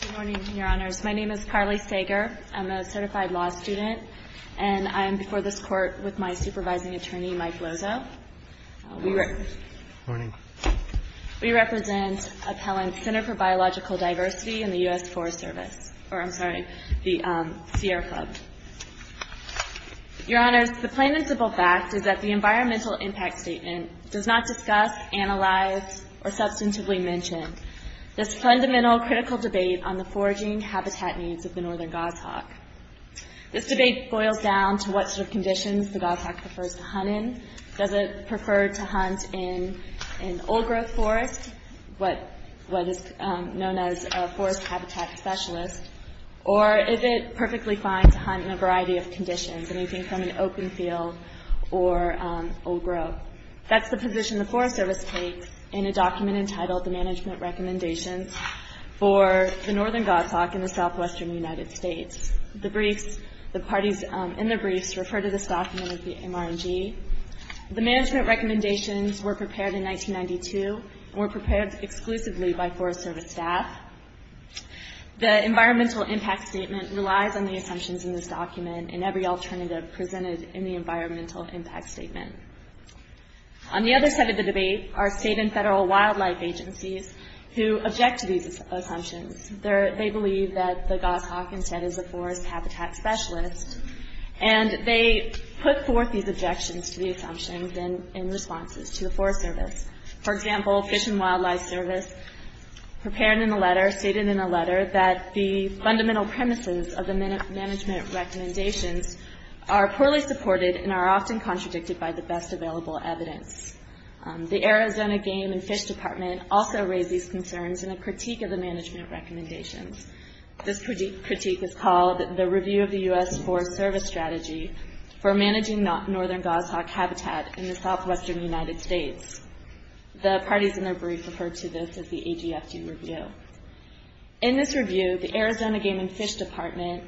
Good morning, Your Honors. My name is Carly Sager. I'm a certified law student, and I'm before this court with my supervising attorney, Mike Lozo. We represent Appellant Center for Biological Diversity in the US Forest Service, or I'm sorry, the Sierra Club. Your Honors, the plain and simple fact is that the Environmental Impact Statement does not discuss, analyze, or substantively mention this fundamental, critical debate on the foraging habitat needs of the northern goshawk. This debate boils down to what sort of conditions the goshawk prefers to hunt in. Does it prefer to hunt in an old-growth forest, what is known as a forest habitat specialist, or is it perfectly fine to hunt in a variety of conditions, anything from an open field or old-growth? That's the position the Forest Service takes in a document entitled, The Management Recommendations for the Northern Goshawk in the Southwestern United States. The briefs, the parties in the briefs refer to this document as the MR&G. The management recommendations were prepared in 1992 and were prepared exclusively by Forest Service staff. The Environmental Impact Statement relies on the assumptions in this document and every alternative presented in the Environmental Impact Statement. On the other side of the debate are state and federal wildlife agencies who object to these assumptions. They believe that the goshawk instead is a forest habitat specialist, and they put forth these objections to the assumptions in response to the Forest Service. For example, Fish and Wildlife Service prepared in a letter, stated in a letter, that the fundamental premises of the management recommendations are poorly supported and are often contradicted by the best available evidence. The Arizona Game and Fish Department also raised these concerns in a critique of the management recommendations. This critique is called, The Review of the U.S. Forest Service Strategy for Managing Northern Goshawk Habitat in the Southwestern United States. The parties in their briefs refer to this as the AGFD Review. In this review, the Arizona Game and Fish Department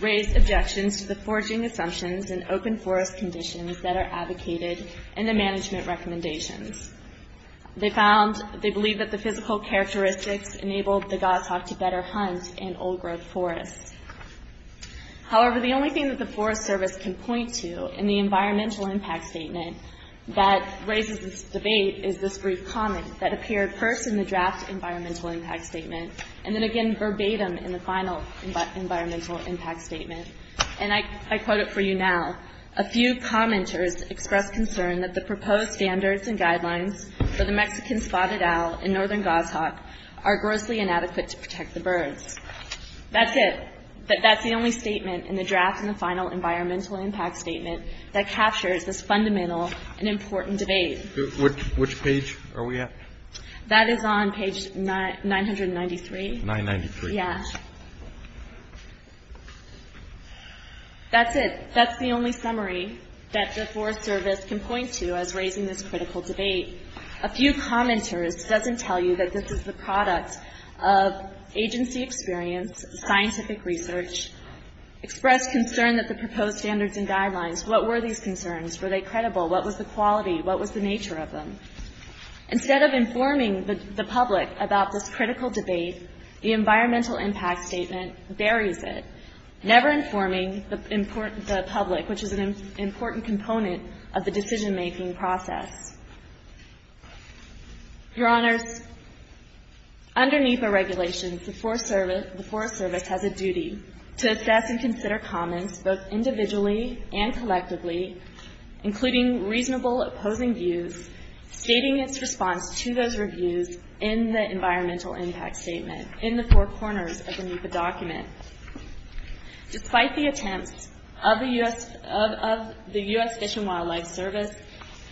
raised objections to the foraging assumptions and open forest conditions that are advocated in the management recommendations. They believe that the physical characteristics enabled the goshawk to better hunt in old-growth forests. However, the only thing that the Forest Service can point to in the Environmental Impact Statement that raises this debate is this brief comment that appeared first in the draft Environmental Impact Statement and then again verbatim in the final Environmental Impact Statement. And I quote it for you now. A few commenters expressed concern that the proposed standards and guidelines for the Mexican spotted owl and northern goshawk are grossly inadequate to protect the birds. That's it. That's the only statement in the draft in the final Environmental Impact Statement that captures this fundamental and important debate. Which page are we at? That is on page 993. 993. Yeah. That's it. That's the only summary that the Forest Service can point to as raising this critical debate. A few commenters doesn't tell you that this is the product of agency experience, scientific research, expressed concern that the proposed standards and guidelines, what were these concerns? Were they credible? What was the quality? What was the nature of them? Instead of informing the public about this critical debate, the Environmental Impact Statement buries it, never informing the public, which is an important component of the decision-making process. Your Honors, under NEPA regulations, the Forest Service has a duty to assess and consider comments both individually and collectively, including reasonable opposing views, stating its response to those reviews in the Environmental Impact Statement, in the four corners of the NEPA document. Despite the attempts of the U.S. Fish and Wildlife Service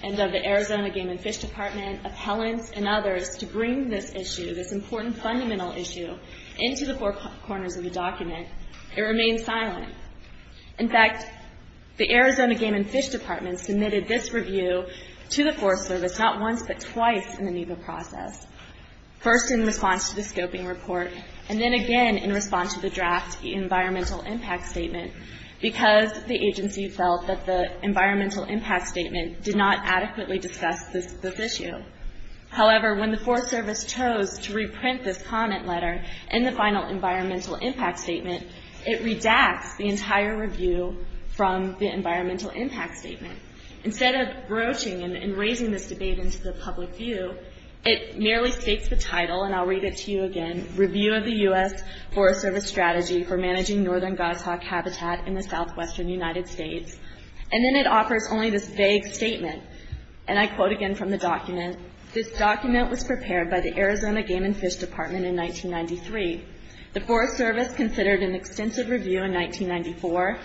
and of the Arizona Game and Fish Department, appellants, and others to bring this issue, this important fundamental issue, into the four corners of the document, it remained silent. In fact, the Arizona Game and Fish Department submitted this review to the Forest Service not once, but twice in the NEPA process. First in response to the scoping report, and then again in response to the draft Environmental Impact Statement, because the agency felt that the Environmental Impact Statement did not adequately discuss this issue. However, when the Forest Service chose to reprint this comment letter in the final Environmental Impact Statement, it redacts the entire review from the Environmental Impact Statement. Instead of broaching and raising this debate into the public view, it merely states the title, and I'll read it to you again, Review of the U.S. Forest Service Strategy for Managing Northern Godstock Habitat in the Southwestern United States. And then it offers only this vague statement, and I quote again from the document, This document was prepared by the Arizona Game and Fish Department in 1993. The Forest Service considered an extensive review in 1994.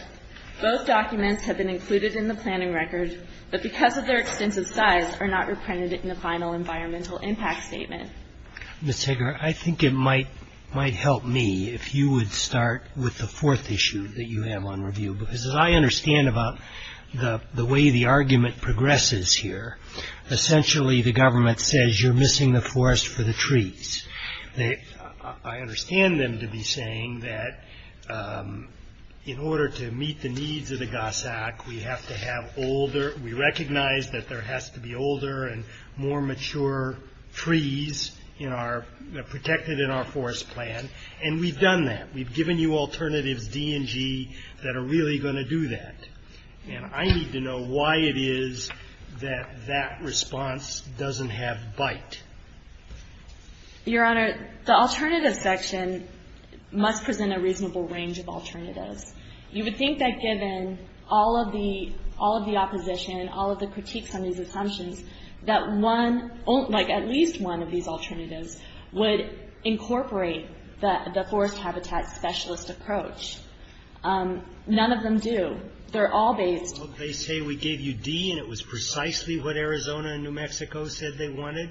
Both documents have been included in the planning record, but because of their extensive size are not reprinted in the final Environmental Impact Statement. Mr. Hager, I think it might help me if you would start with the fourth issue that you have on review, because as I understand about the way the argument progresses here, essentially the government says you're missing the forest for the trees. I understand them to be saying that in order to meet the needs of the Gossack, we have to have older, we recognize that there has to be older and more mature trees that are protected in our forest plan, and we've done that. We've given you alternatives, D and G, that are really going to do that. And I need to know why it is that that response doesn't have bite. Your Honor, the alternative section must present a reasonable range of alternatives. You would think that given all of the opposition, all of the critiques on these assumptions, that one, like at least one of these alternatives, would incorporate the forest habitat specialist approach. None of them do. They're all based... They say we gave you D and it was precisely what Arizona and New Mexico said they wanted,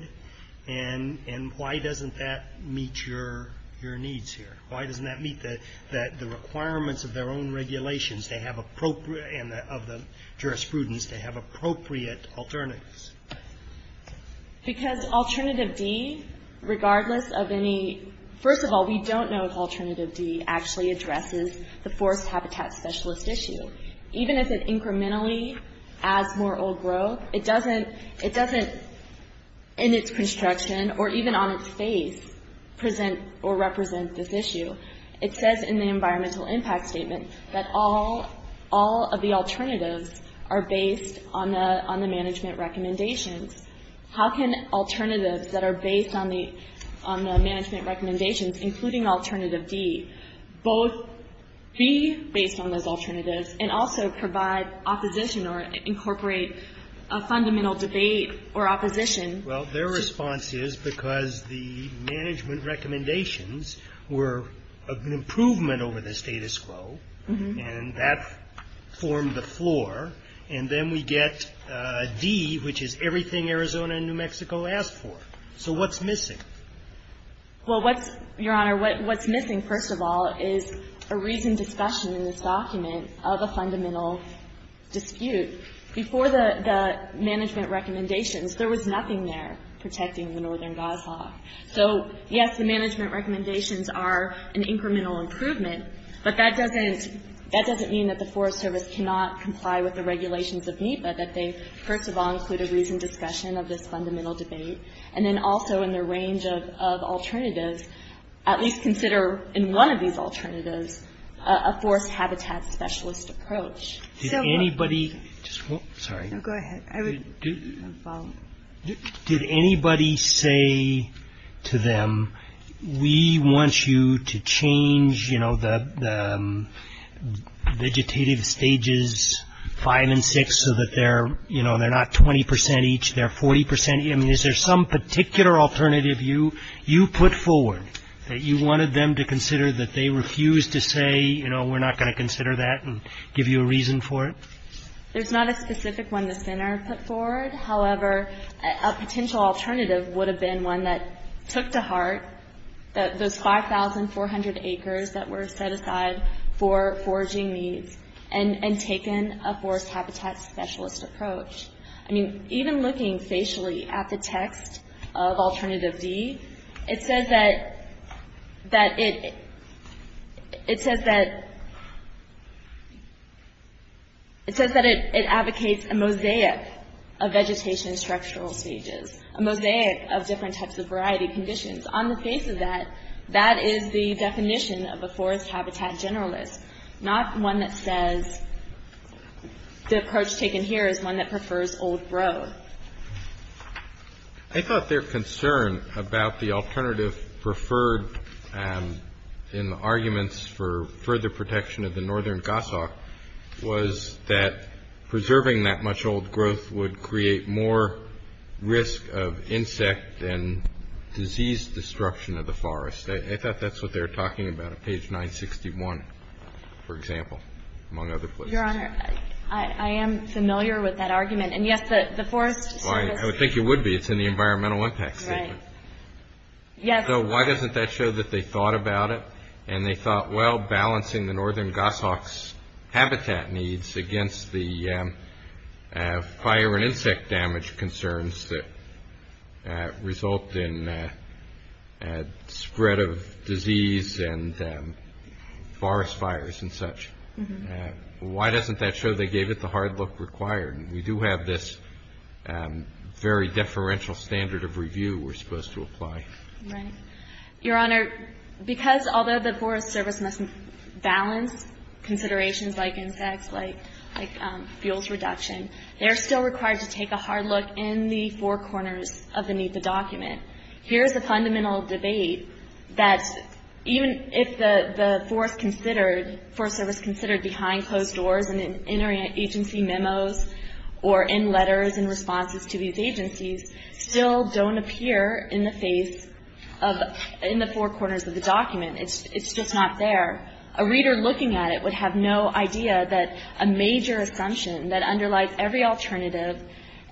and why doesn't that meet your needs here? Why doesn't that meet the requirements of their own regulations, and of the jurisprudence to have appropriate alternatives? Because alternative D, regardless of any... First of all, we don't know if alternative D actually addresses the forest habitat specialist issue. Even if it incrementally adds more old growth, it doesn't, in its construction or even on its face, present or represent this issue. It says in the environmental impact statement that all of the alternatives are based on the management recommendations. How can alternatives that are based on the management recommendations, including alternative D, both be based on those alternatives and also provide opposition or incorporate a fundamental debate or opposition? Well, their response is because the management recommendations were an improvement over the status quo, and that formed the floor, and then we get D, which is everything Arizona and New Mexico asked for. So what's missing? Well, what's, Your Honor, what's missing, first of all, is a reasoned discussion in this document of a fundamental dispute. Before the management recommendations, there was nothing there protecting the Northern Guise law. So, yes, the management recommendations are an incremental improvement, but that doesn't mean that the Forest Service cannot comply with the regulations of NEPA, that they, first of all, include a reasoned discussion of this fundamental debate, and then also in their range of alternatives, at least consider in one of these alternatives a Forest Habitat Specialist approach. Did anybody say to them, we want you to change the vegetative stages five and six so that they're not 20 percent each, they're 40 percent each, I mean, is there some particular alternative you put forward that you wanted them to consider that they refused to say, you know, we're not going to consider that and give you a reason for it? There's not a specific one the center put forward. However, a potential alternative would have been one that took to heart those 5,400 acres that were set aside for foraging needs and taken a Forest Habitat Specialist approach. I mean, even looking facially at the text of Alternative D, it says that it advocates a mosaic of vegetation structural stages, a mosaic of different types of variety conditions. On the face of that, that is the definition of a Forest Habitat Generalist, not one that says the approach taken here is one that prefers old growth. I thought their concern about the alternative preferred in the arguments for further protection of the northern Gossok was that preserving that much old growth would create more risk of insect and disease destruction of the forest. I thought that's what they were talking about on page 961, for example, among other places. Your Honor, I am familiar with that argument. And, yes, the Forest Service – I would think you would be. It's in the environmental impact statement. Right. Yes. So why doesn't that show that they thought about it and they thought, well, balancing the northern Gossok's habitat needs against the fire and insect damage concerns that result in spread of disease and forest fires and such. Why doesn't that show they gave it the hard look required? We do have this very deferential standard of review we're supposed to apply. Right. Your Honor, because although the Forest Service must balance considerations like insects, like fuels reduction, they're still required to take a hard look in the four corners of the NEPA document. Here's a fundamental debate that even if the Forest Service considered behind closed doors and in interagency memos or in letters and responses to these agencies, still don't appear in the face of – in the four corners of the document. It's just not there. A reader looking at it would have no idea that a major assumption that underlies every alternative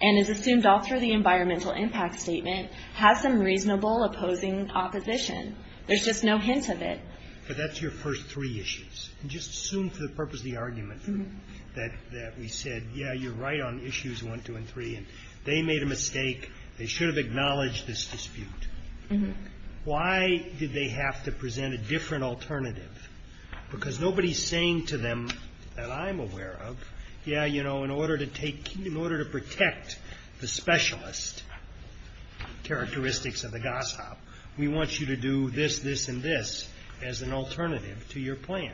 and is assumed all through the environmental impact statement has some reasonable opposing opposition. There's just no hint of it. But that's your first three issues. Just assume for the purpose of the argument that we said, yeah, you're right on issues one, two, and three. They made a mistake. They should have acknowledged this dispute. Why did they have to present a different alternative? Because nobody's saying to them that I'm aware of, yeah, you know, in order to take – in order to protect the specialist characteristics of the GOSHOP, we want you to do this, this, and this as an alternative to your plan.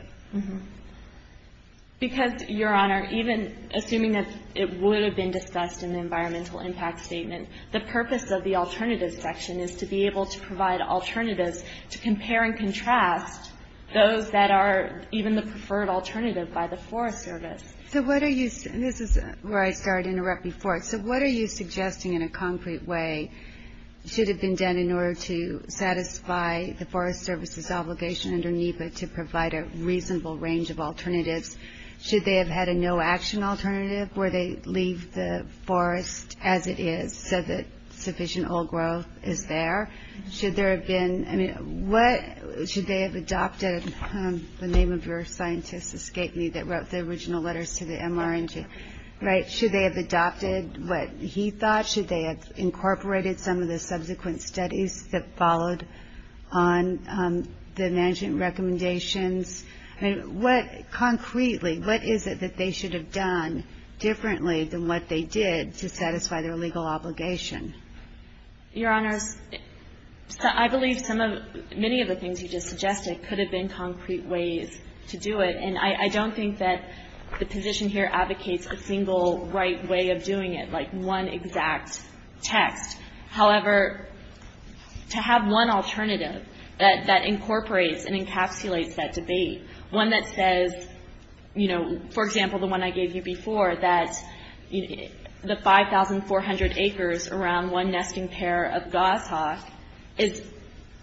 Because, Your Honor, even assuming that it would have been discussed in the environmental impact statement, the purpose of the alternative section is to be able to provide alternatives to compare and contrast those that are even the preferred alternative by the Forest Service. So what are you – and this is where I start to interrupt before. So what are you suggesting in a concrete way should have been done in order to satisfy the Forest Service's obligation under NEPA to provide a reasonable range of alternatives? Should they have had a no-action alternative where they leave the forest as it is so that sufficient oil growth is there? Should there have been – I mean, what – should they have adopted – the name of your scientist escaped me that wrote the original letters to the MRN to – right? Should they have adopted what he thought? Should they have incorporated some of the subsequent studies that followed on the management recommendations? I mean, what – concretely, what is it that they should have done differently than what they did to satisfy their legal obligation? Your Honors, I believe some of – many of the things you just suggested could have been concrete ways to do it. And I don't think that the position here advocates a single right way of doing it, like one exact text. However, to have one alternative that incorporates and encapsulates that debate, one that says, you know, for example, the one I gave you before, that the 5,400 acres around one nesting pair of goshawk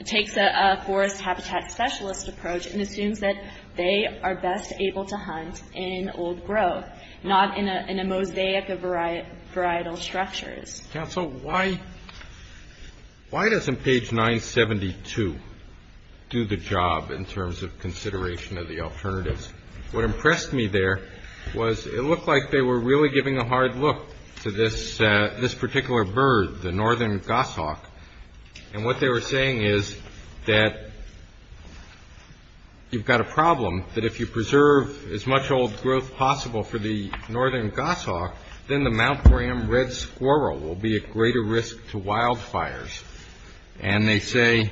takes a forest habitat specialist approach and assumes that they are best able to hunt in old growth, not in a mosaic of varietal structures. Counsel, why doesn't page 972 do the job in terms of consideration of the alternatives? What impressed me there was it looked like they were really giving a hard look to this particular bird, the northern goshawk, and what they were saying is that you've got a problem that if you preserve as much old growth possible for the northern goshawk, then the Mount Graham red squirrel will be at greater risk to wildfires. And they say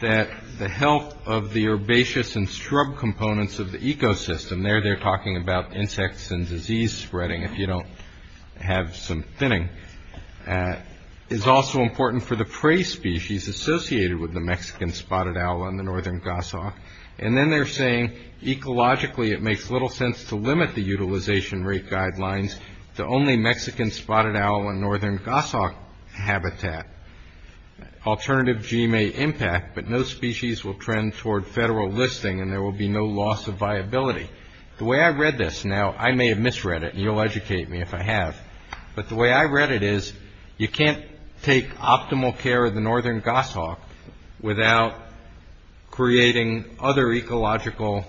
that the health of the herbaceous and shrub components of the ecosystem – there they're talking about insects and disease spreading if you don't have some thinning – is also important for the prey species associated with the Mexican spotted owl on the northern goshawk. And then they're saying ecologically it makes little sense to limit the utilization rate guidelines to only Mexican spotted owl and northern goshawk habitat. Alternative G may impact, but no species will trend toward federal listing, and there will be no loss of viability. The way I read this – now, I may have misread it, and you'll educate me if I have – but the way I read it is you can't take optimal care of the northern goshawk without creating other ecological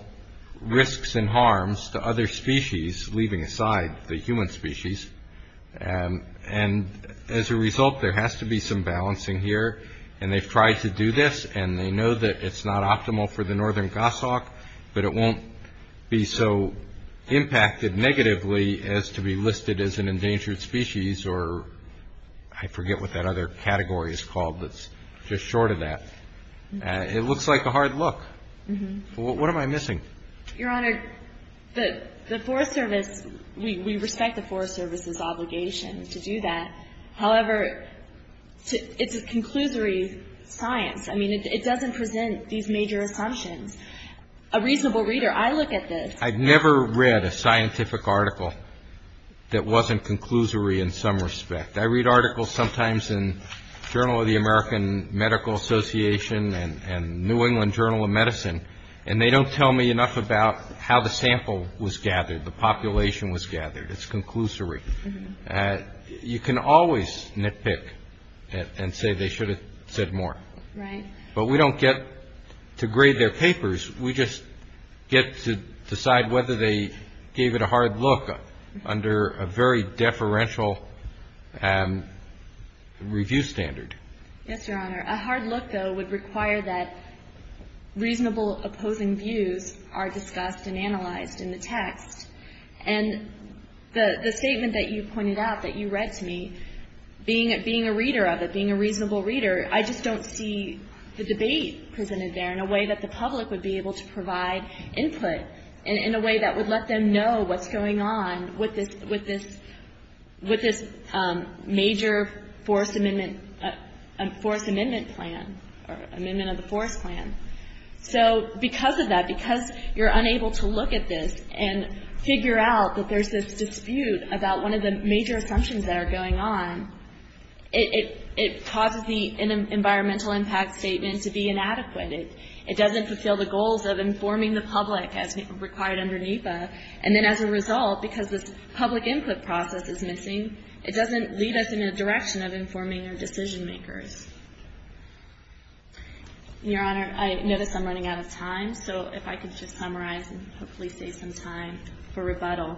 risks and harms to other species, leaving aside the human species. And as a result, there has to be some balancing here. And they've tried to do this, and they know that it's not optimal for the northern goshawk, but it won't be so impacted negatively as to be listed as an endangered species or – I forget what that other category is called that's just short of that. It looks like a hard look. What am I missing? Your Honor, the Forest Service – we respect the Forest Service's obligation to do that. However, it's a conclusory science. I mean, it doesn't present these major assumptions. A reasonable reader – I look at this – I've never read a scientific article that wasn't conclusory in some respect. I read articles sometimes in Journal of the American Medical Association and New England Journal of Medicine, and they don't tell me enough about how the sample was gathered, the population was gathered. It's conclusory. You can always nitpick and say they should have said more. But we don't get to grade their papers. We just get to decide whether they gave it a hard look under a very deferential review standard. Yes, Your Honor. A hard look, though, would require that reasonable opposing views are discussed and analyzed in the text. And the statement that you pointed out that you read to me, being a reader of it, being a reasonable reader, I just don't see the debate presented there in a way that the public would be able to provide input and in a way that would let them know what's going on with this major forest amendment plan or amendment of the forest plan. So because of that, because you're unable to look at this and figure out that there's this dispute about one of the major assumptions that are going on, it causes the environmental impact statement to be inadequate. It doesn't fulfill the goals of informing the public as required under NEPA. And then as a result, because this public input process is missing, it doesn't lead us in a direction of informing our decision makers. Your Honor, I notice I'm running out of time. So if I could just summarize and hopefully save some time for rebuttal.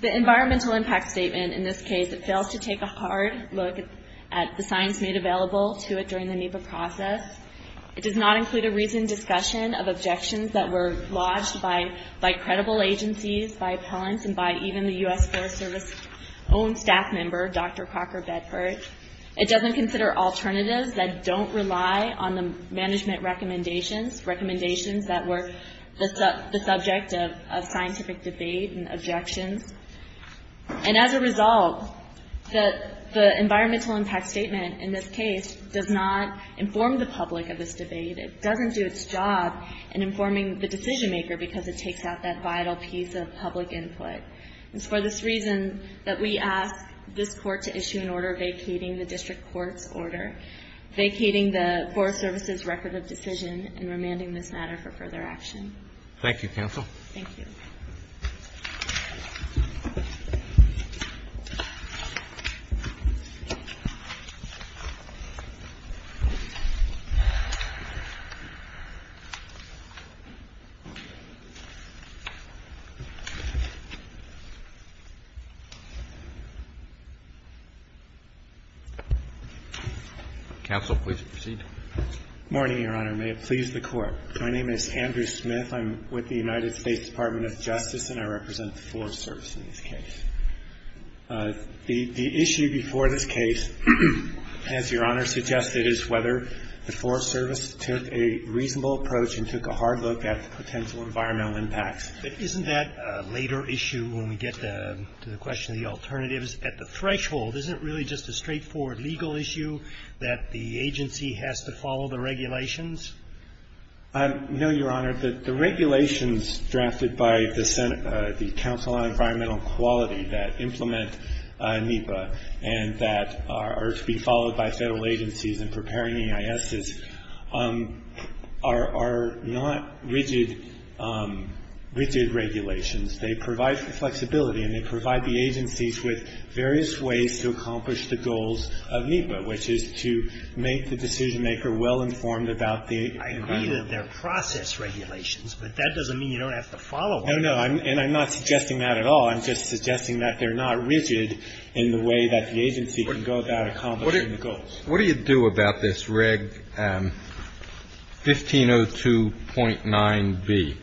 The environmental impact statement in this case, it fails to take a hard look at the signs made available to it during the NEPA process. It does not include a reasoned discussion of objections that were lodged by credible agencies, by appellants, and by even the U.S. Forest Service's own staff member, Dr. Crocker Bedford. It doesn't consider alternatives that don't rely on the management recommendations, recommendations that were the subject of scientific debate and objections. And as a result, the environmental impact statement in this case does not inform the public of this debate. It doesn't do its job in informing the decision maker because it takes out that vital piece of public input. It's for this reason that we ask this Court to issue an order vacating the District Court's order, vacating the Forest Service's record of decision and remanding this matter for further action. Thank you, Counsel. Thank you. Counsel, please proceed. Morning, Your Honor. May it please the Court. My name is Andrew Smith. I'm with the United States Department of Justice, and I represent the Forest Service in this case. The issue before this case, as Your Honor suggested, is whether the Forest Service took a reasonable approach and took a hard look at the potential environmental impacts. Isn't that a later issue when we get to the question of the alternatives at the threshold? Isn't it really just a straightforward legal issue that the agency has to follow the regulations? No, Your Honor. The regulations drafted by the Council on Environmental Quality that implement NEPA and that are to be followed by Federal agencies in preparing EISs are not rigid regulations. They provide for flexibility, and they provide the agencies with various ways to accomplish the goals of NEPA, which is to make the decision-maker well-informed about the agreement. I agree that they're process regulations, but that doesn't mean you don't have to follow them. No, no. And I'm not suggesting that at all. I'm just suggesting that they're not rigid in the way that the agency can go about accomplishing the goals. What do you do about this Reg 1502.9b?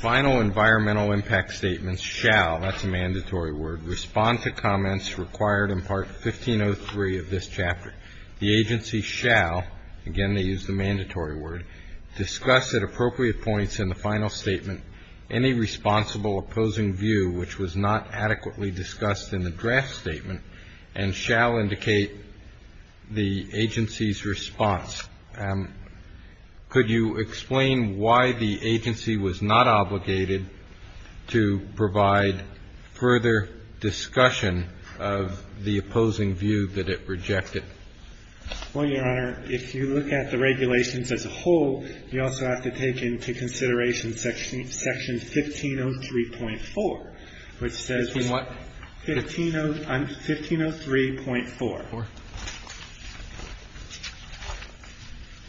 Final environmental impact statements shall, that's a mandatory word, respond to comments required in Part 1503 of this chapter. The agency shall, again they use the mandatory word, discuss at appropriate points in the final statement any responsible opposing view which was not adequately discussed in the draft statement and shall indicate the agency's response. Could you explain why the agency was not obligated to provide further discussion of the opposing view that it rejected? Well, Your Honor, if you look at the regulations as a whole, you also have to take into consideration Section 1503.4, which says, 1503.4,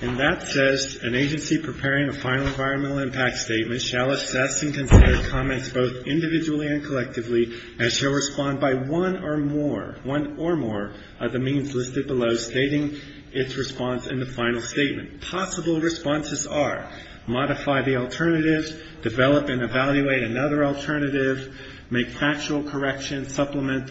and that says, an agency preparing a final environmental impact statement shall assess and consider comments both individually and collectively and shall respond by one or more of the means listed below, stating its response in the final statement. The possible responses are modify the alternatives, develop and evaluate another alternative, make factual corrections, supplement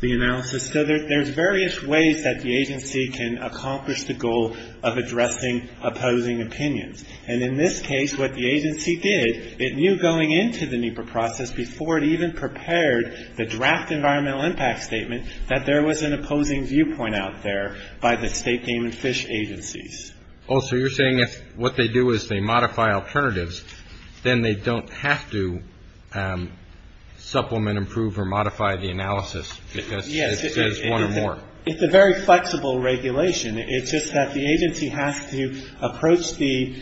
the analysis. So there's various ways that the agency can accomplish the goal of addressing opposing opinions. And in this case, what the agency did, it knew going into the NEPA process, before it even prepared the draft environmental impact statement, that there was an opposing viewpoint out there by the state game and fish agencies. Oh, so you're saying if what they do is they modify alternatives, then they don't have to supplement, improve, or modify the analysis because there's one or more. Yes, it's a very flexible regulation. It's just that the agency has to approach the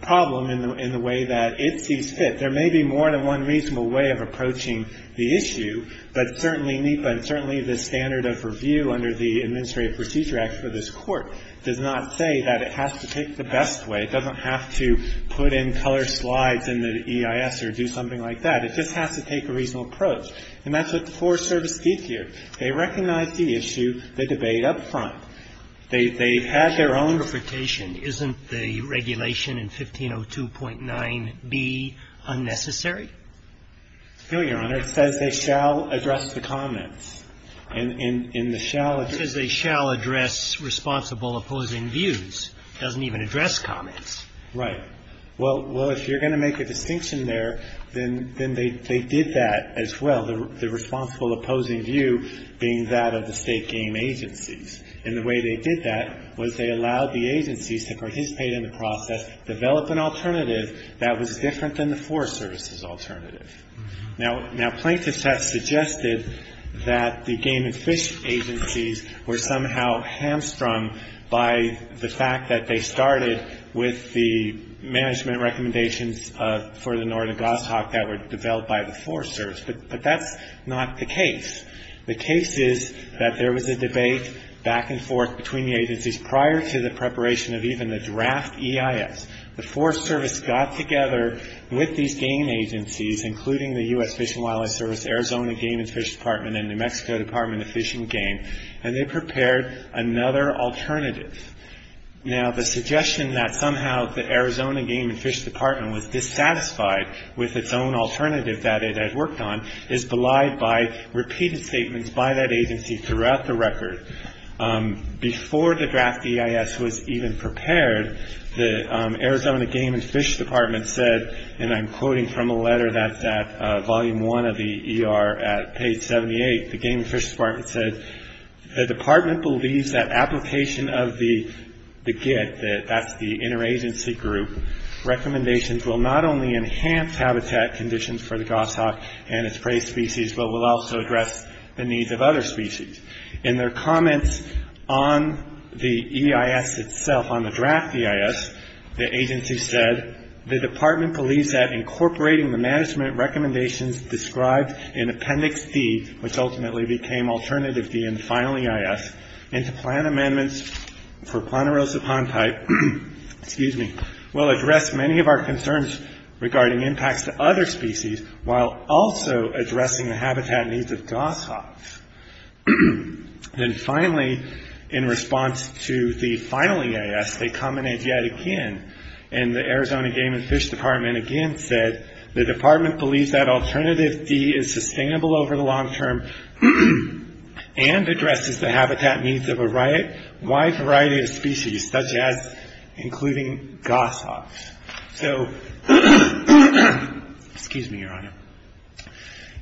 problem in the way that it sees fit. There may be more than one reasonable way of approaching the issue, but certainly NEPA and certainly the standard of review under the Administrative Procedure Act for this Court does not say that it has to take the best way. It doesn't have to put in color slides in the EIS or do something like that. It just has to take a reasonable approach. And that's what the Forest Service did here. They recognized the issue, the debate up front. They had their own interpretation. Isn't the regulation in 1502.9b unnecessary? No, Your Honor. It says they shall address the comments. And in the shall address. It says they shall address responsible opposing views. It doesn't even address comments. Right. Well, if you're going to make a distinction there, then they did that as well, the responsible opposing view being that of the state game agencies. And the way they did that was they allowed the agencies to participate in the process, develop an alternative that was different than the Forest Service's alternative. Now, plaintiffs have suggested that the game and fish agencies were somehow hamstrung by the fact that they started with the management recommendations for the northern goshawk that were developed by the Forest Service. But that's not the case. The case is that there was a debate back and forth between the agencies prior to the preparation of even the draft EIS. The Forest Service got together with these game agencies, including the U.S. Fish and Wildlife Service, Arizona Game and Fish Department, and New Mexico Department of Fish and Game, and they prepared another alternative. Now, the suggestion that somehow the Arizona Game and Fish Department was dissatisfied with its own alternative that it had worked on is belied by repeated statements by that agency throughout the record. Before the draft EIS was even prepared, the Arizona Game and Fish Department said, and I'm quoting from a letter that's at volume one of the ER at page 78, the Game and Fish Department said, the department believes that application of the GIT, that's the interagency group, recommendations will not only enhance habitat conditions for the goshawk and its prey species, but will also address the needs of other species. In their comments on the EIS itself, on the draft EIS, the agency said, the department believes that incorporating the management recommendations described in Appendix D, which ultimately became Alternative D and finally EIS, and to plan amendments for Ponderosa pond type, excuse me, will address many of our concerns regarding impacts to other species, while also addressing the habitat needs of goshawks. Then finally, in response to the final EIS, they commented yet again, and the Arizona Game and Fish Department again said, the department believes that Alternative D is sustainable over the long term and addresses the habitat needs of a wide variety of species, such as including goshawks. So, excuse me, Your Honor.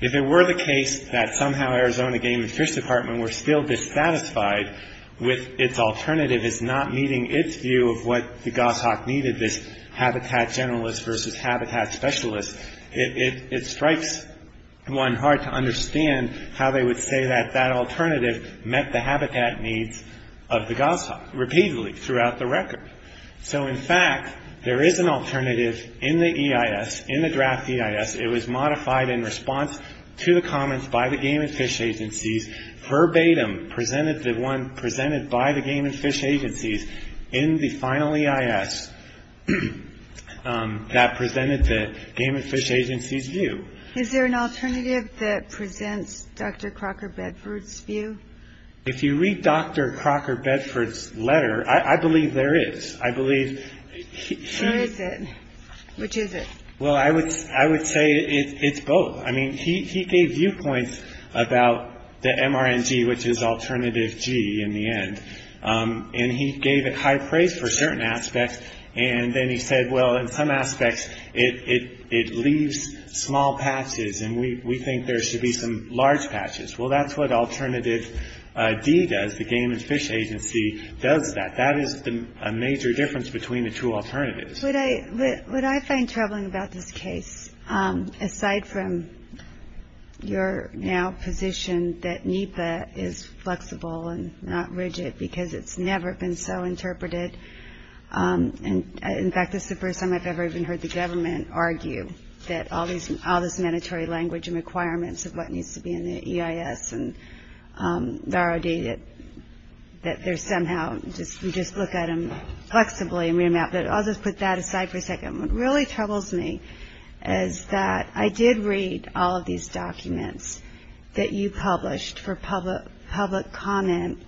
If it were the case that somehow Arizona Game and Fish Department were still dissatisfied with its alternative as not meeting its view of what the goshawk needed, this habitat generalist versus habitat specialist, it strikes one hard to understand how they would say that that alternative met the habitat needs of the goshawk repeatedly throughout the record. So, in fact, there is an alternative in the EIS, in the draft EIS. It was modified in response to the comments by the Game and Fish Agencies, verbatim presented by the Game and Fish Agencies in the final EIS that presented the Game and Fish Agencies' view. Is there an alternative that presents Dr. Crocker Bedford's view? If you read Dr. Crocker Bedford's letter, I believe there is. Where is it? Which is it? Well, I would say it's both. I mean, he gave viewpoints about the MRNG, which is Alternative G in the end, and he gave it high praise for certain aspects, and then he said, well, in some aspects it leaves small patches and we think there should be some large patches. Well, that's what Alternative D does. The Game and Fish Agency does that. That is a major difference between the two alternatives. Would I find troubling about this case, aside from your now position that NEPA is flexible and not rigid because it's never been so interpreted? In fact, this is the first time I've ever even heard the government argue that all this mandatory language and requirements of what needs to be in the EIS and the ROD, that they're somehow just look at them flexibly and remap. But I'll just put that aside for a second. What really troubles me is that I did read all of these documents that you published for public comment,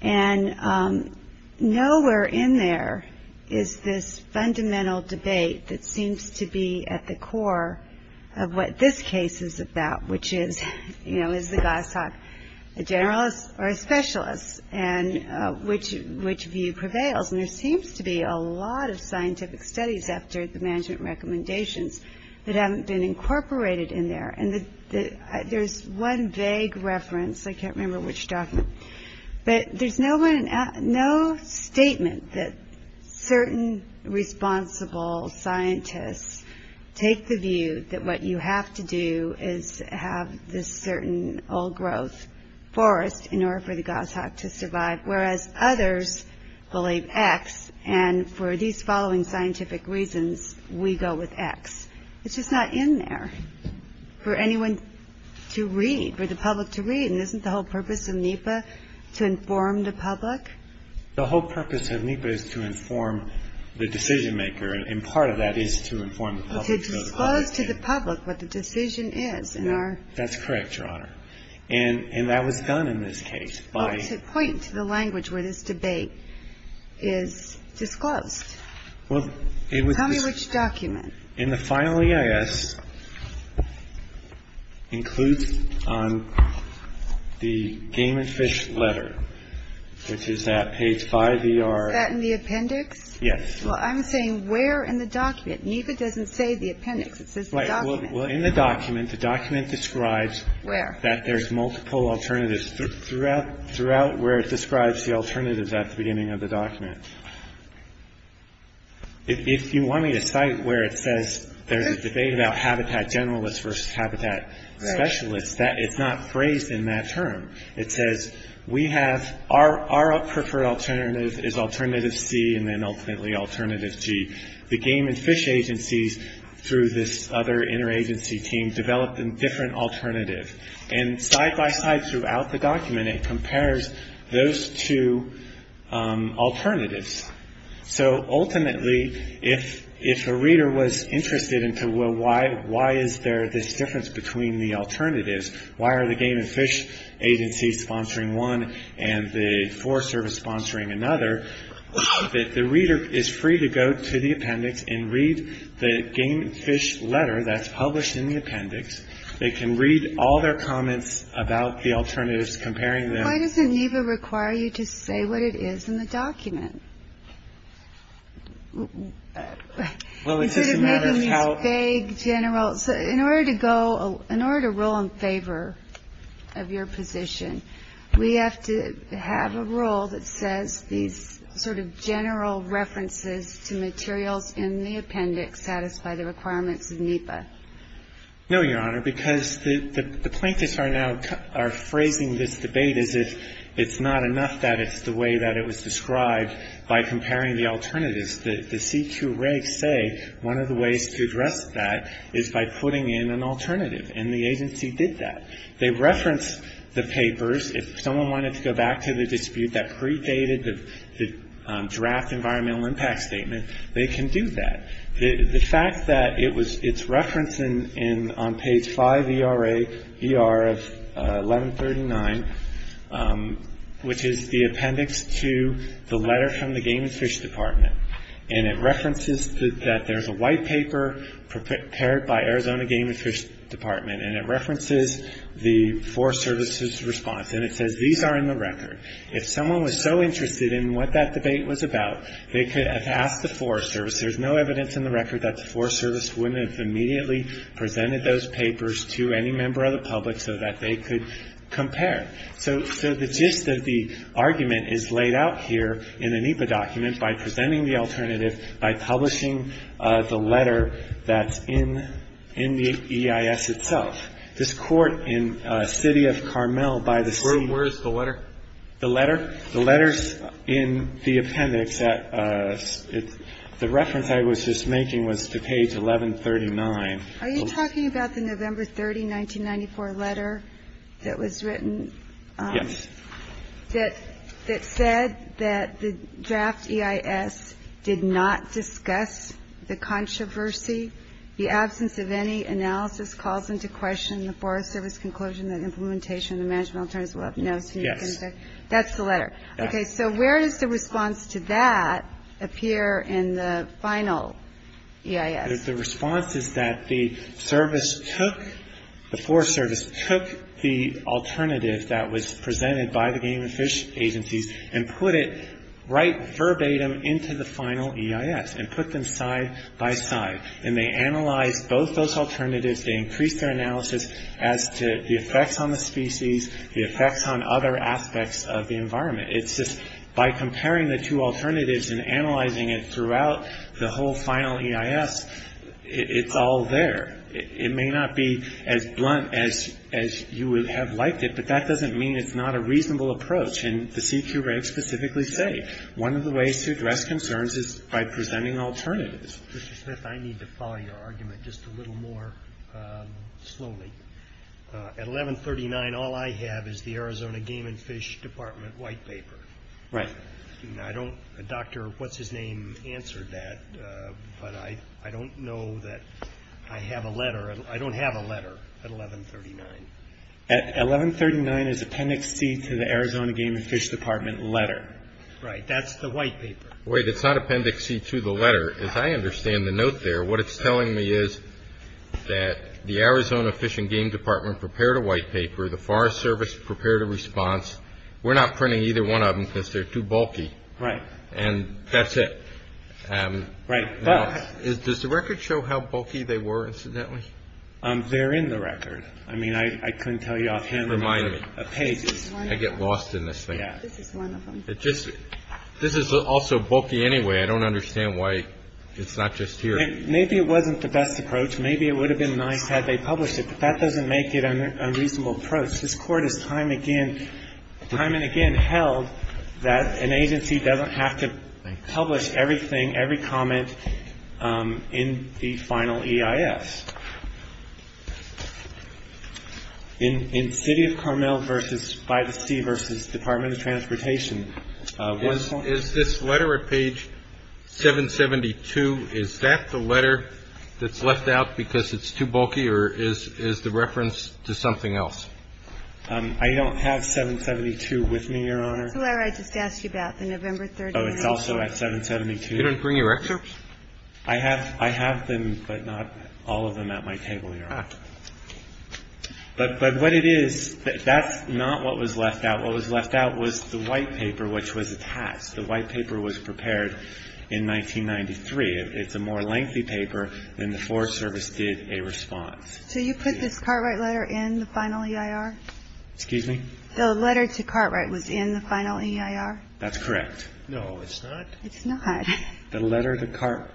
and nowhere in there is this fundamental debate that seems to be at the core of what this case is about, which is, you know, is the GOSOC a generalist or a specialist, and which view prevails. And there seems to be a lot of scientific studies after the management recommendations that haven't been incorporated in there. And there's one vague reference. I can't remember which document. But there's no statement that certain responsible scientists take the view that what you have to do is have this certain old growth forest in order for the GOSOC to survive, whereas others believe X. And for these following scientific reasons, we go with X. It's just not in there for anyone to read, for the public to read. And isn't the whole purpose of NEPA to inform the public? The whole purpose of NEPA is to inform the decision-maker, and part of that is to inform the public. To disclose to the public what the decision is in our... That's correct, Your Honor. And that was done in this case by... To point to the language where this debate is disclosed. Well, it was... Tell me which document. In the final EIS, includes on the Game and Fish letter, which is at page 5 ER... Is that in the appendix? Yes. Well, I'm saying where in the document. NEPA doesn't say the appendix. It says the document. Well, in the document, the document describes... Where? ...that there's multiple alternatives throughout where it describes the alternatives at the beginning of the document. If you want me to cite where it says, there's a debate about habitat generalists versus habitat specialists, it's not phrased in that term. It says, we have... Our preferred alternative is alternative C and then ultimately alternative G. The Game and Fish agencies, through this other interagency team, developed a different alternative. And side-by-side throughout the document, it compares those two alternatives. So ultimately, if a reader was interested into, well, why is there this difference between the alternatives? Why are the Game and Fish agencies sponsoring one and the Forest Service sponsoring another? The reader is free to go to the appendix and read the Game and Fish letter that's published in the appendix. They can read all their comments about the alternatives, comparing them. Why doesn't NEPA require you to say what it is in the document? Well, it's just a matter of how... Instead of making these vague general... In order to go... In order to rule in favor of your position, we have to have a rule that says these sort of general references to materials in the appendix satisfy the requirements of NEPA. No, Your Honor, because the plaintiffs are now phrasing this debate as if it's not enough that it's the way that it was described by comparing the alternatives. The CQ regs say one of the ways to address that is by putting in an alternative, and the agency did that. They referenced the papers. If someone wanted to go back to the dispute that predated the draft environmental impact statement, they can do that. The fact that it's referenced on page 5ER of 1139, which is the appendix to the letter from the Game and Fish Department, and it references that there's a white paper prepared by Arizona Game and Fish Department, and it references the Forest Service's response, and it says these are in the record. If someone was so interested in what that debate was about, they could have asked the Forest Service. There's no evidence in the record that the Forest Service wouldn't have immediately presented those papers to any member of the public so that they could compare. So the gist of the argument is laid out here in the NEPA document by presenting the alternative by publishing the letter that's in the EIS itself. This court in the city of Carmel by the state. Where is the letter? The letter? The letter's in the appendix. The reference I was just making was to page 1139. Are you talking about the November 30, 1994 letter that was written? Yes. That said that the draft EIS did not discuss the controversy. The absence of any analysis calls into question the Forest Service's conclusion that implementation of the management alternatives will have no significant effect. That's the letter. Yes. Okay. So where does the response to that appear in the final EIS? The response is that the service took, the Forest Service took the alternative that was presented by the Game and Fish Agencies and put it right verbatim into the final EIS and put them side by side. And they analyzed both those alternatives. They increased their analysis as to the effects on the species, the effects on other aspects of the environment. It's just by comparing the two alternatives and analyzing it throughout the whole final EIS, it's all there. It may not be as blunt as you would have liked it, but that doesn't mean it's not a reasonable approach. And the CQ regs specifically say one of the ways to address concerns is by presenting alternatives. Mr. Smith, I need to follow your argument just a little more slowly. At 1139, all I have is the Arizona Game and Fish Department white paper. Right. I don't, Dr. What's-His-Name answered that, but I don't know that I have a letter. I don't have a letter at 1139. At 1139 is Appendix C to the Arizona Game and Fish Department letter. Right. That's the white paper. Wait, it's not Appendix C to the letter. As I understand the note there, what it's telling me is that the Arizona Fish and Game Department prepared a white paper. The Forest Service prepared a response. We're not printing either one of them because they're too bulky. Right. And that's it. Right. Does the record show how bulky they were, incidentally? They're in the record. I mean, I couldn't tell you offhand. Remind me. I get lost in this thing. This is one of them. This is also bulky anyway. I don't understand why it's not just here. Maybe it wasn't the best approach. Maybe it would have been nice had they published it, but that doesn't make it an unreasonable approach. This Court has time and again held that an agency doesn't have to publish everything, every comment in the final EIS. In City of Carmel v. By the Sea v. Department of Transportation, is this letter at page 772, is that the letter that's left out because it's too bulky or is the reference to something else? I don't have 772 with me, Your Honor. That's the letter I just asked you about, the November 30th. Oh, it's also at 772. You didn't bring your excerpts? I have them, but not all of them at my table, Your Honor. But what it is, that's not what was left out. What was left out was the white paper which was attached. The white paper was prepared in 1993. It's a more lengthy paper than the Forest Service did a response. So you put this Cartwright letter in the final EIR? Excuse me? The letter to Cartwright was in the final EIR? That's correct. No, it's not. It's not. The letter to Cartwright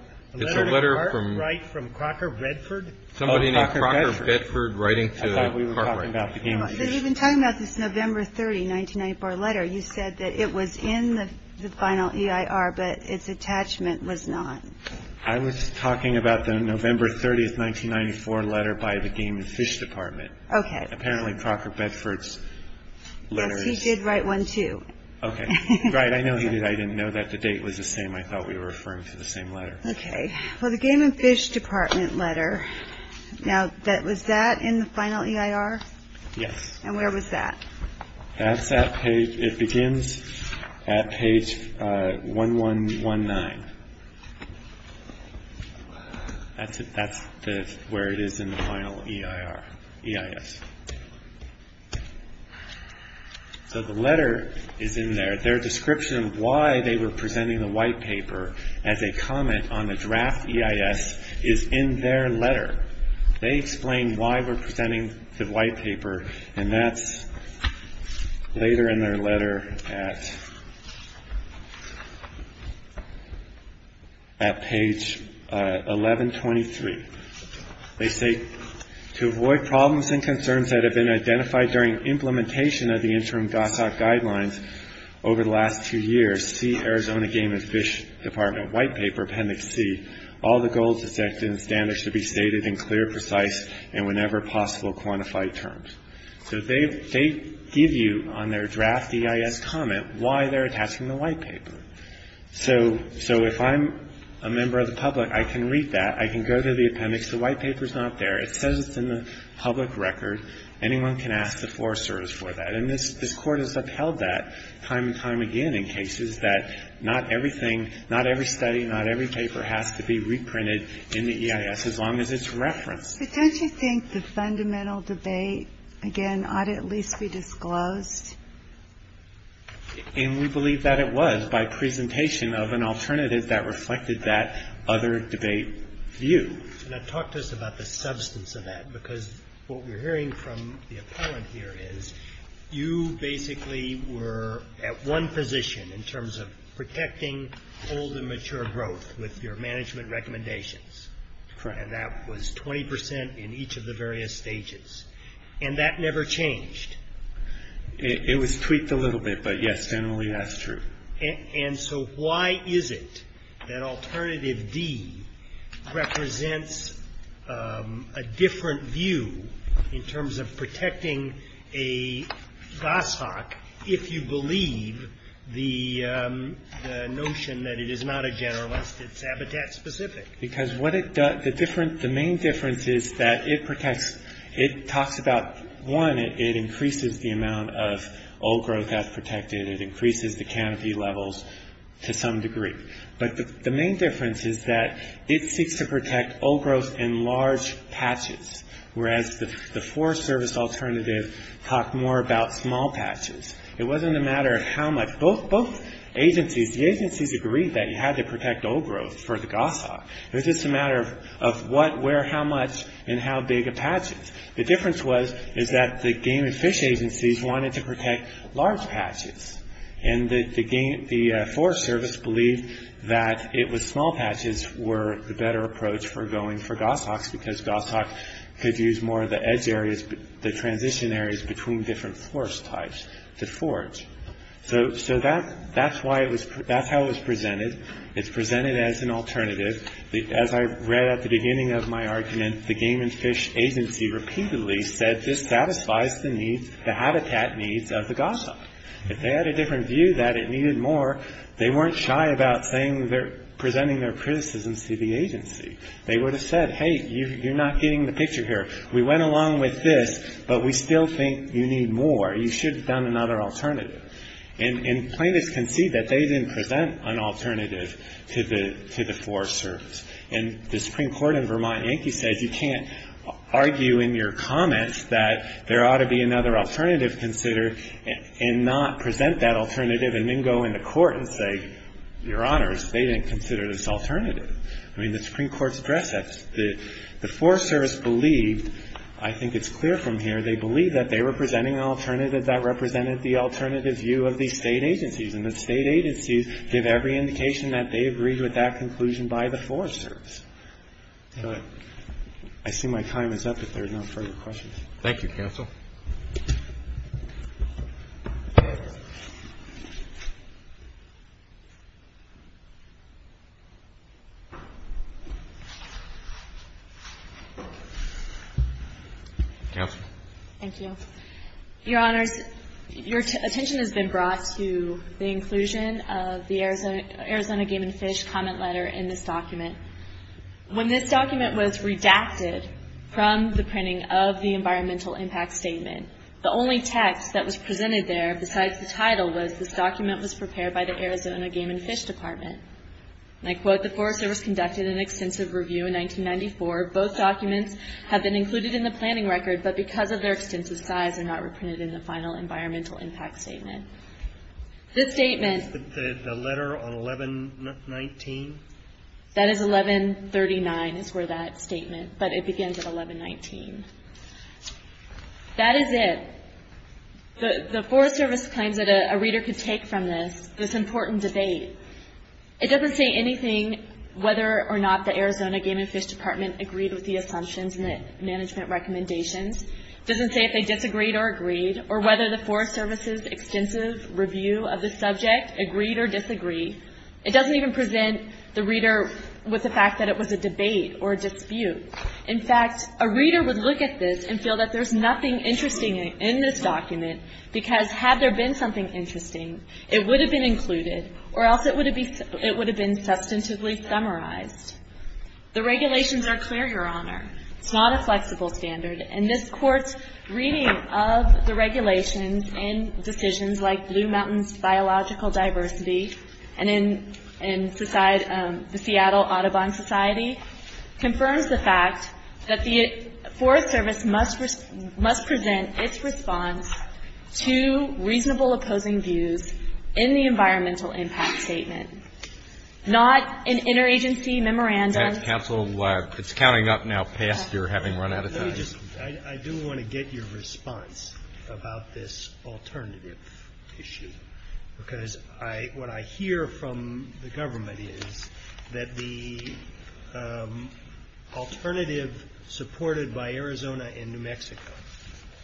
from Crocker Bedford? Somebody named Crocker Bedford writing to Cartwright. I thought we were talking about the Game and Fish. You've been talking about this November 30, 1994 letter. You said that it was in the final EIR, but its attachment was not. I was talking about the November 30, 1994 letter by the Game and Fish Department. Okay. Apparently Crocker Bedford's letter is... Yes, he did write one too. Okay. Right, I know he did. I didn't know that. The date was the same. I thought we were referring to the same letter. Okay. Well, the Game and Fish Department letter, now was that in the final EIR? Yes. And where was that? That's at page... It begins at page 1119. That's where it is in the final EIR, EIS. So the letter is in there. Their description of why they were presenting the white paper as a comment on the draft EIS is in their letter. They explain why we're presenting the white paper, and that's later in their letter at page 1123. They say, So they give you on their draft EIS comment why they're attaching the white paper. So if I'm a member of the public, I can read that. I can go to the appendix. The white paper's not there. It says it's in the public record. Anyone can ask the floor service for that. And this Court has upheld that time and time again in cases that not everything not every study, not every paper has to be reprinted in the EIS as long as it's referenced. But don't you think the fundamental debate, again, ought at least be disclosed? And we believe that it was by presentation of an alternative that reflected that other debate view. And talk to us about the substance of that, because what we're hearing from the appellant here is you basically were at one position in terms of protecting old and mature growth with your management recommendations. And that was 20 percent in each of the various stages. And that never changed. It was tweaked a little bit, but, yes, generally that's true. And so why is it that alternative D represents a different view in terms of protecting a goshawk if you believe the notion that it is not a generalist, it's habitat specific? Because what it does, the main difference is that it protects, it talks about, one, it increases the amount of old growth that's protected. It increases the canopy levels to some degree. But the main difference is that it seeks to protect old growth in large patches, whereas the Forest Service alternative talked more about small patches. It wasn't a matter of how much. Both agencies, the agencies agreed that you had to protect old growth for the goshawk. It was just a matter of what, where, how much, and how big a patch is. The difference was, is that the Game and Fish agencies wanted to protect large patches. And the Forest Service believed that it was small patches were the better approach for going for goshawks because goshawks could use more of the edge areas, the transition areas between different forest types to forage. So that's how it was presented. It's presented as an alternative. As I read at the beginning of my argument, the Game and Fish agency repeatedly said, this satisfies the habitat needs of the goshawk. If they had a different view that it needed more, they weren't shy about presenting their criticisms to the agency. They would have said, hey, you're not getting the picture here. We went along with this, but we still think you need more. You should have done another alternative. And plaintiffs concede that they didn't present an alternative to the Forest Service. And the Supreme Court in Vermont Yankee says you can't argue in your comments that there ought to be another alternative considered and not present that alternative and then go into court and say, Your Honors, they didn't consider this alternative. I mean, the Supreme Court's address, the Forest Service believed, I think it's clear from here, they believed that they were presenting an alternative that represented the alternative view of the state agencies. And the state agencies give every indication that they agreed with that conclusion by the Forest Service. But I assume my time is up if there are no further questions. Thank you, Counsel. Counsel. Thank you. Your Honors, your attention has been brought to the inclusion of the Arizona Game and Fish comment letter in this document. When this document was redacted from the printing of the environmental impact statement, the only text that was presented there besides the title was this document was prepared by the Arizona Game and Fish Department. And I quote, The Forest Service conducted an extensive review in 1994. Both documents have been included in the planning record, but because of their extensive size, they're not reprinted in the final environmental impact statement. This statement. The letter on 1119. That is 1139 is where that statement, but it begins at 1119. That is it. The Forest Service claims that a reader could take from this, this important debate. It doesn't say anything whether or not the Arizona Game and Fish Department agreed with the assumptions and the management recommendations. It doesn't say if they disagreed or agreed or whether the Forest Service's extensive review of the subject agreed or disagreed. It doesn't even present the reader with the fact that it was a debate or a dispute. In fact, a reader would look at this and feel that there's nothing interesting in this document because had there been something interesting, it would have been included or else it would have been substantively summarized. The regulations are clear, Your Honor. It's not a flexible standard. And this Court's reading of the regulations in decisions like Blue Mountains Biological Diversity and in the Seattle Audubon Society confirms the fact that the Forest Service must present its response to reasonable opposing views in the environmental impact statement, not an interagency memorandum. Counsel, it's counting up now past your having run out of time. I do want to get your response about this alternative issue because what I hear from the government is that the alternative supported by Arizona and New Mexico,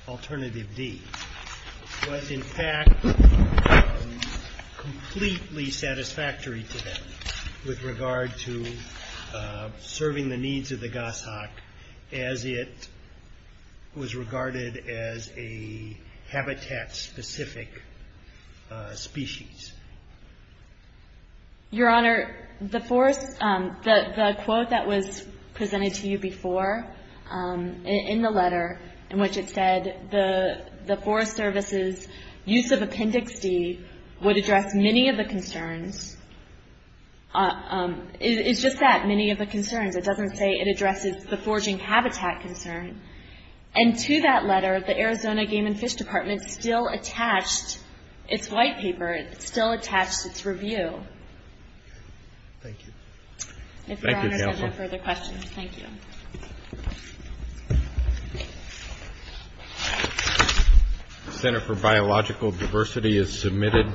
alternative D, was in fact completely satisfactory to them with regard to serving the needs of the goshawk as it was regarded as a habitat-specific species. Your Honor, the quote that was presented to you before in the letter in which it said the Forest Service's use of Appendix D would address many of the concerns. It's just that, many of the concerns. It doesn't say it addresses the forging habitat concern. And to that letter, the Arizona Game and Fish Department still attached its white paper, it still attached its review. Thank you. Thank you, Counsel. If Your Honor has any further questions, thank you. The Center for Biological Diversity is submitted.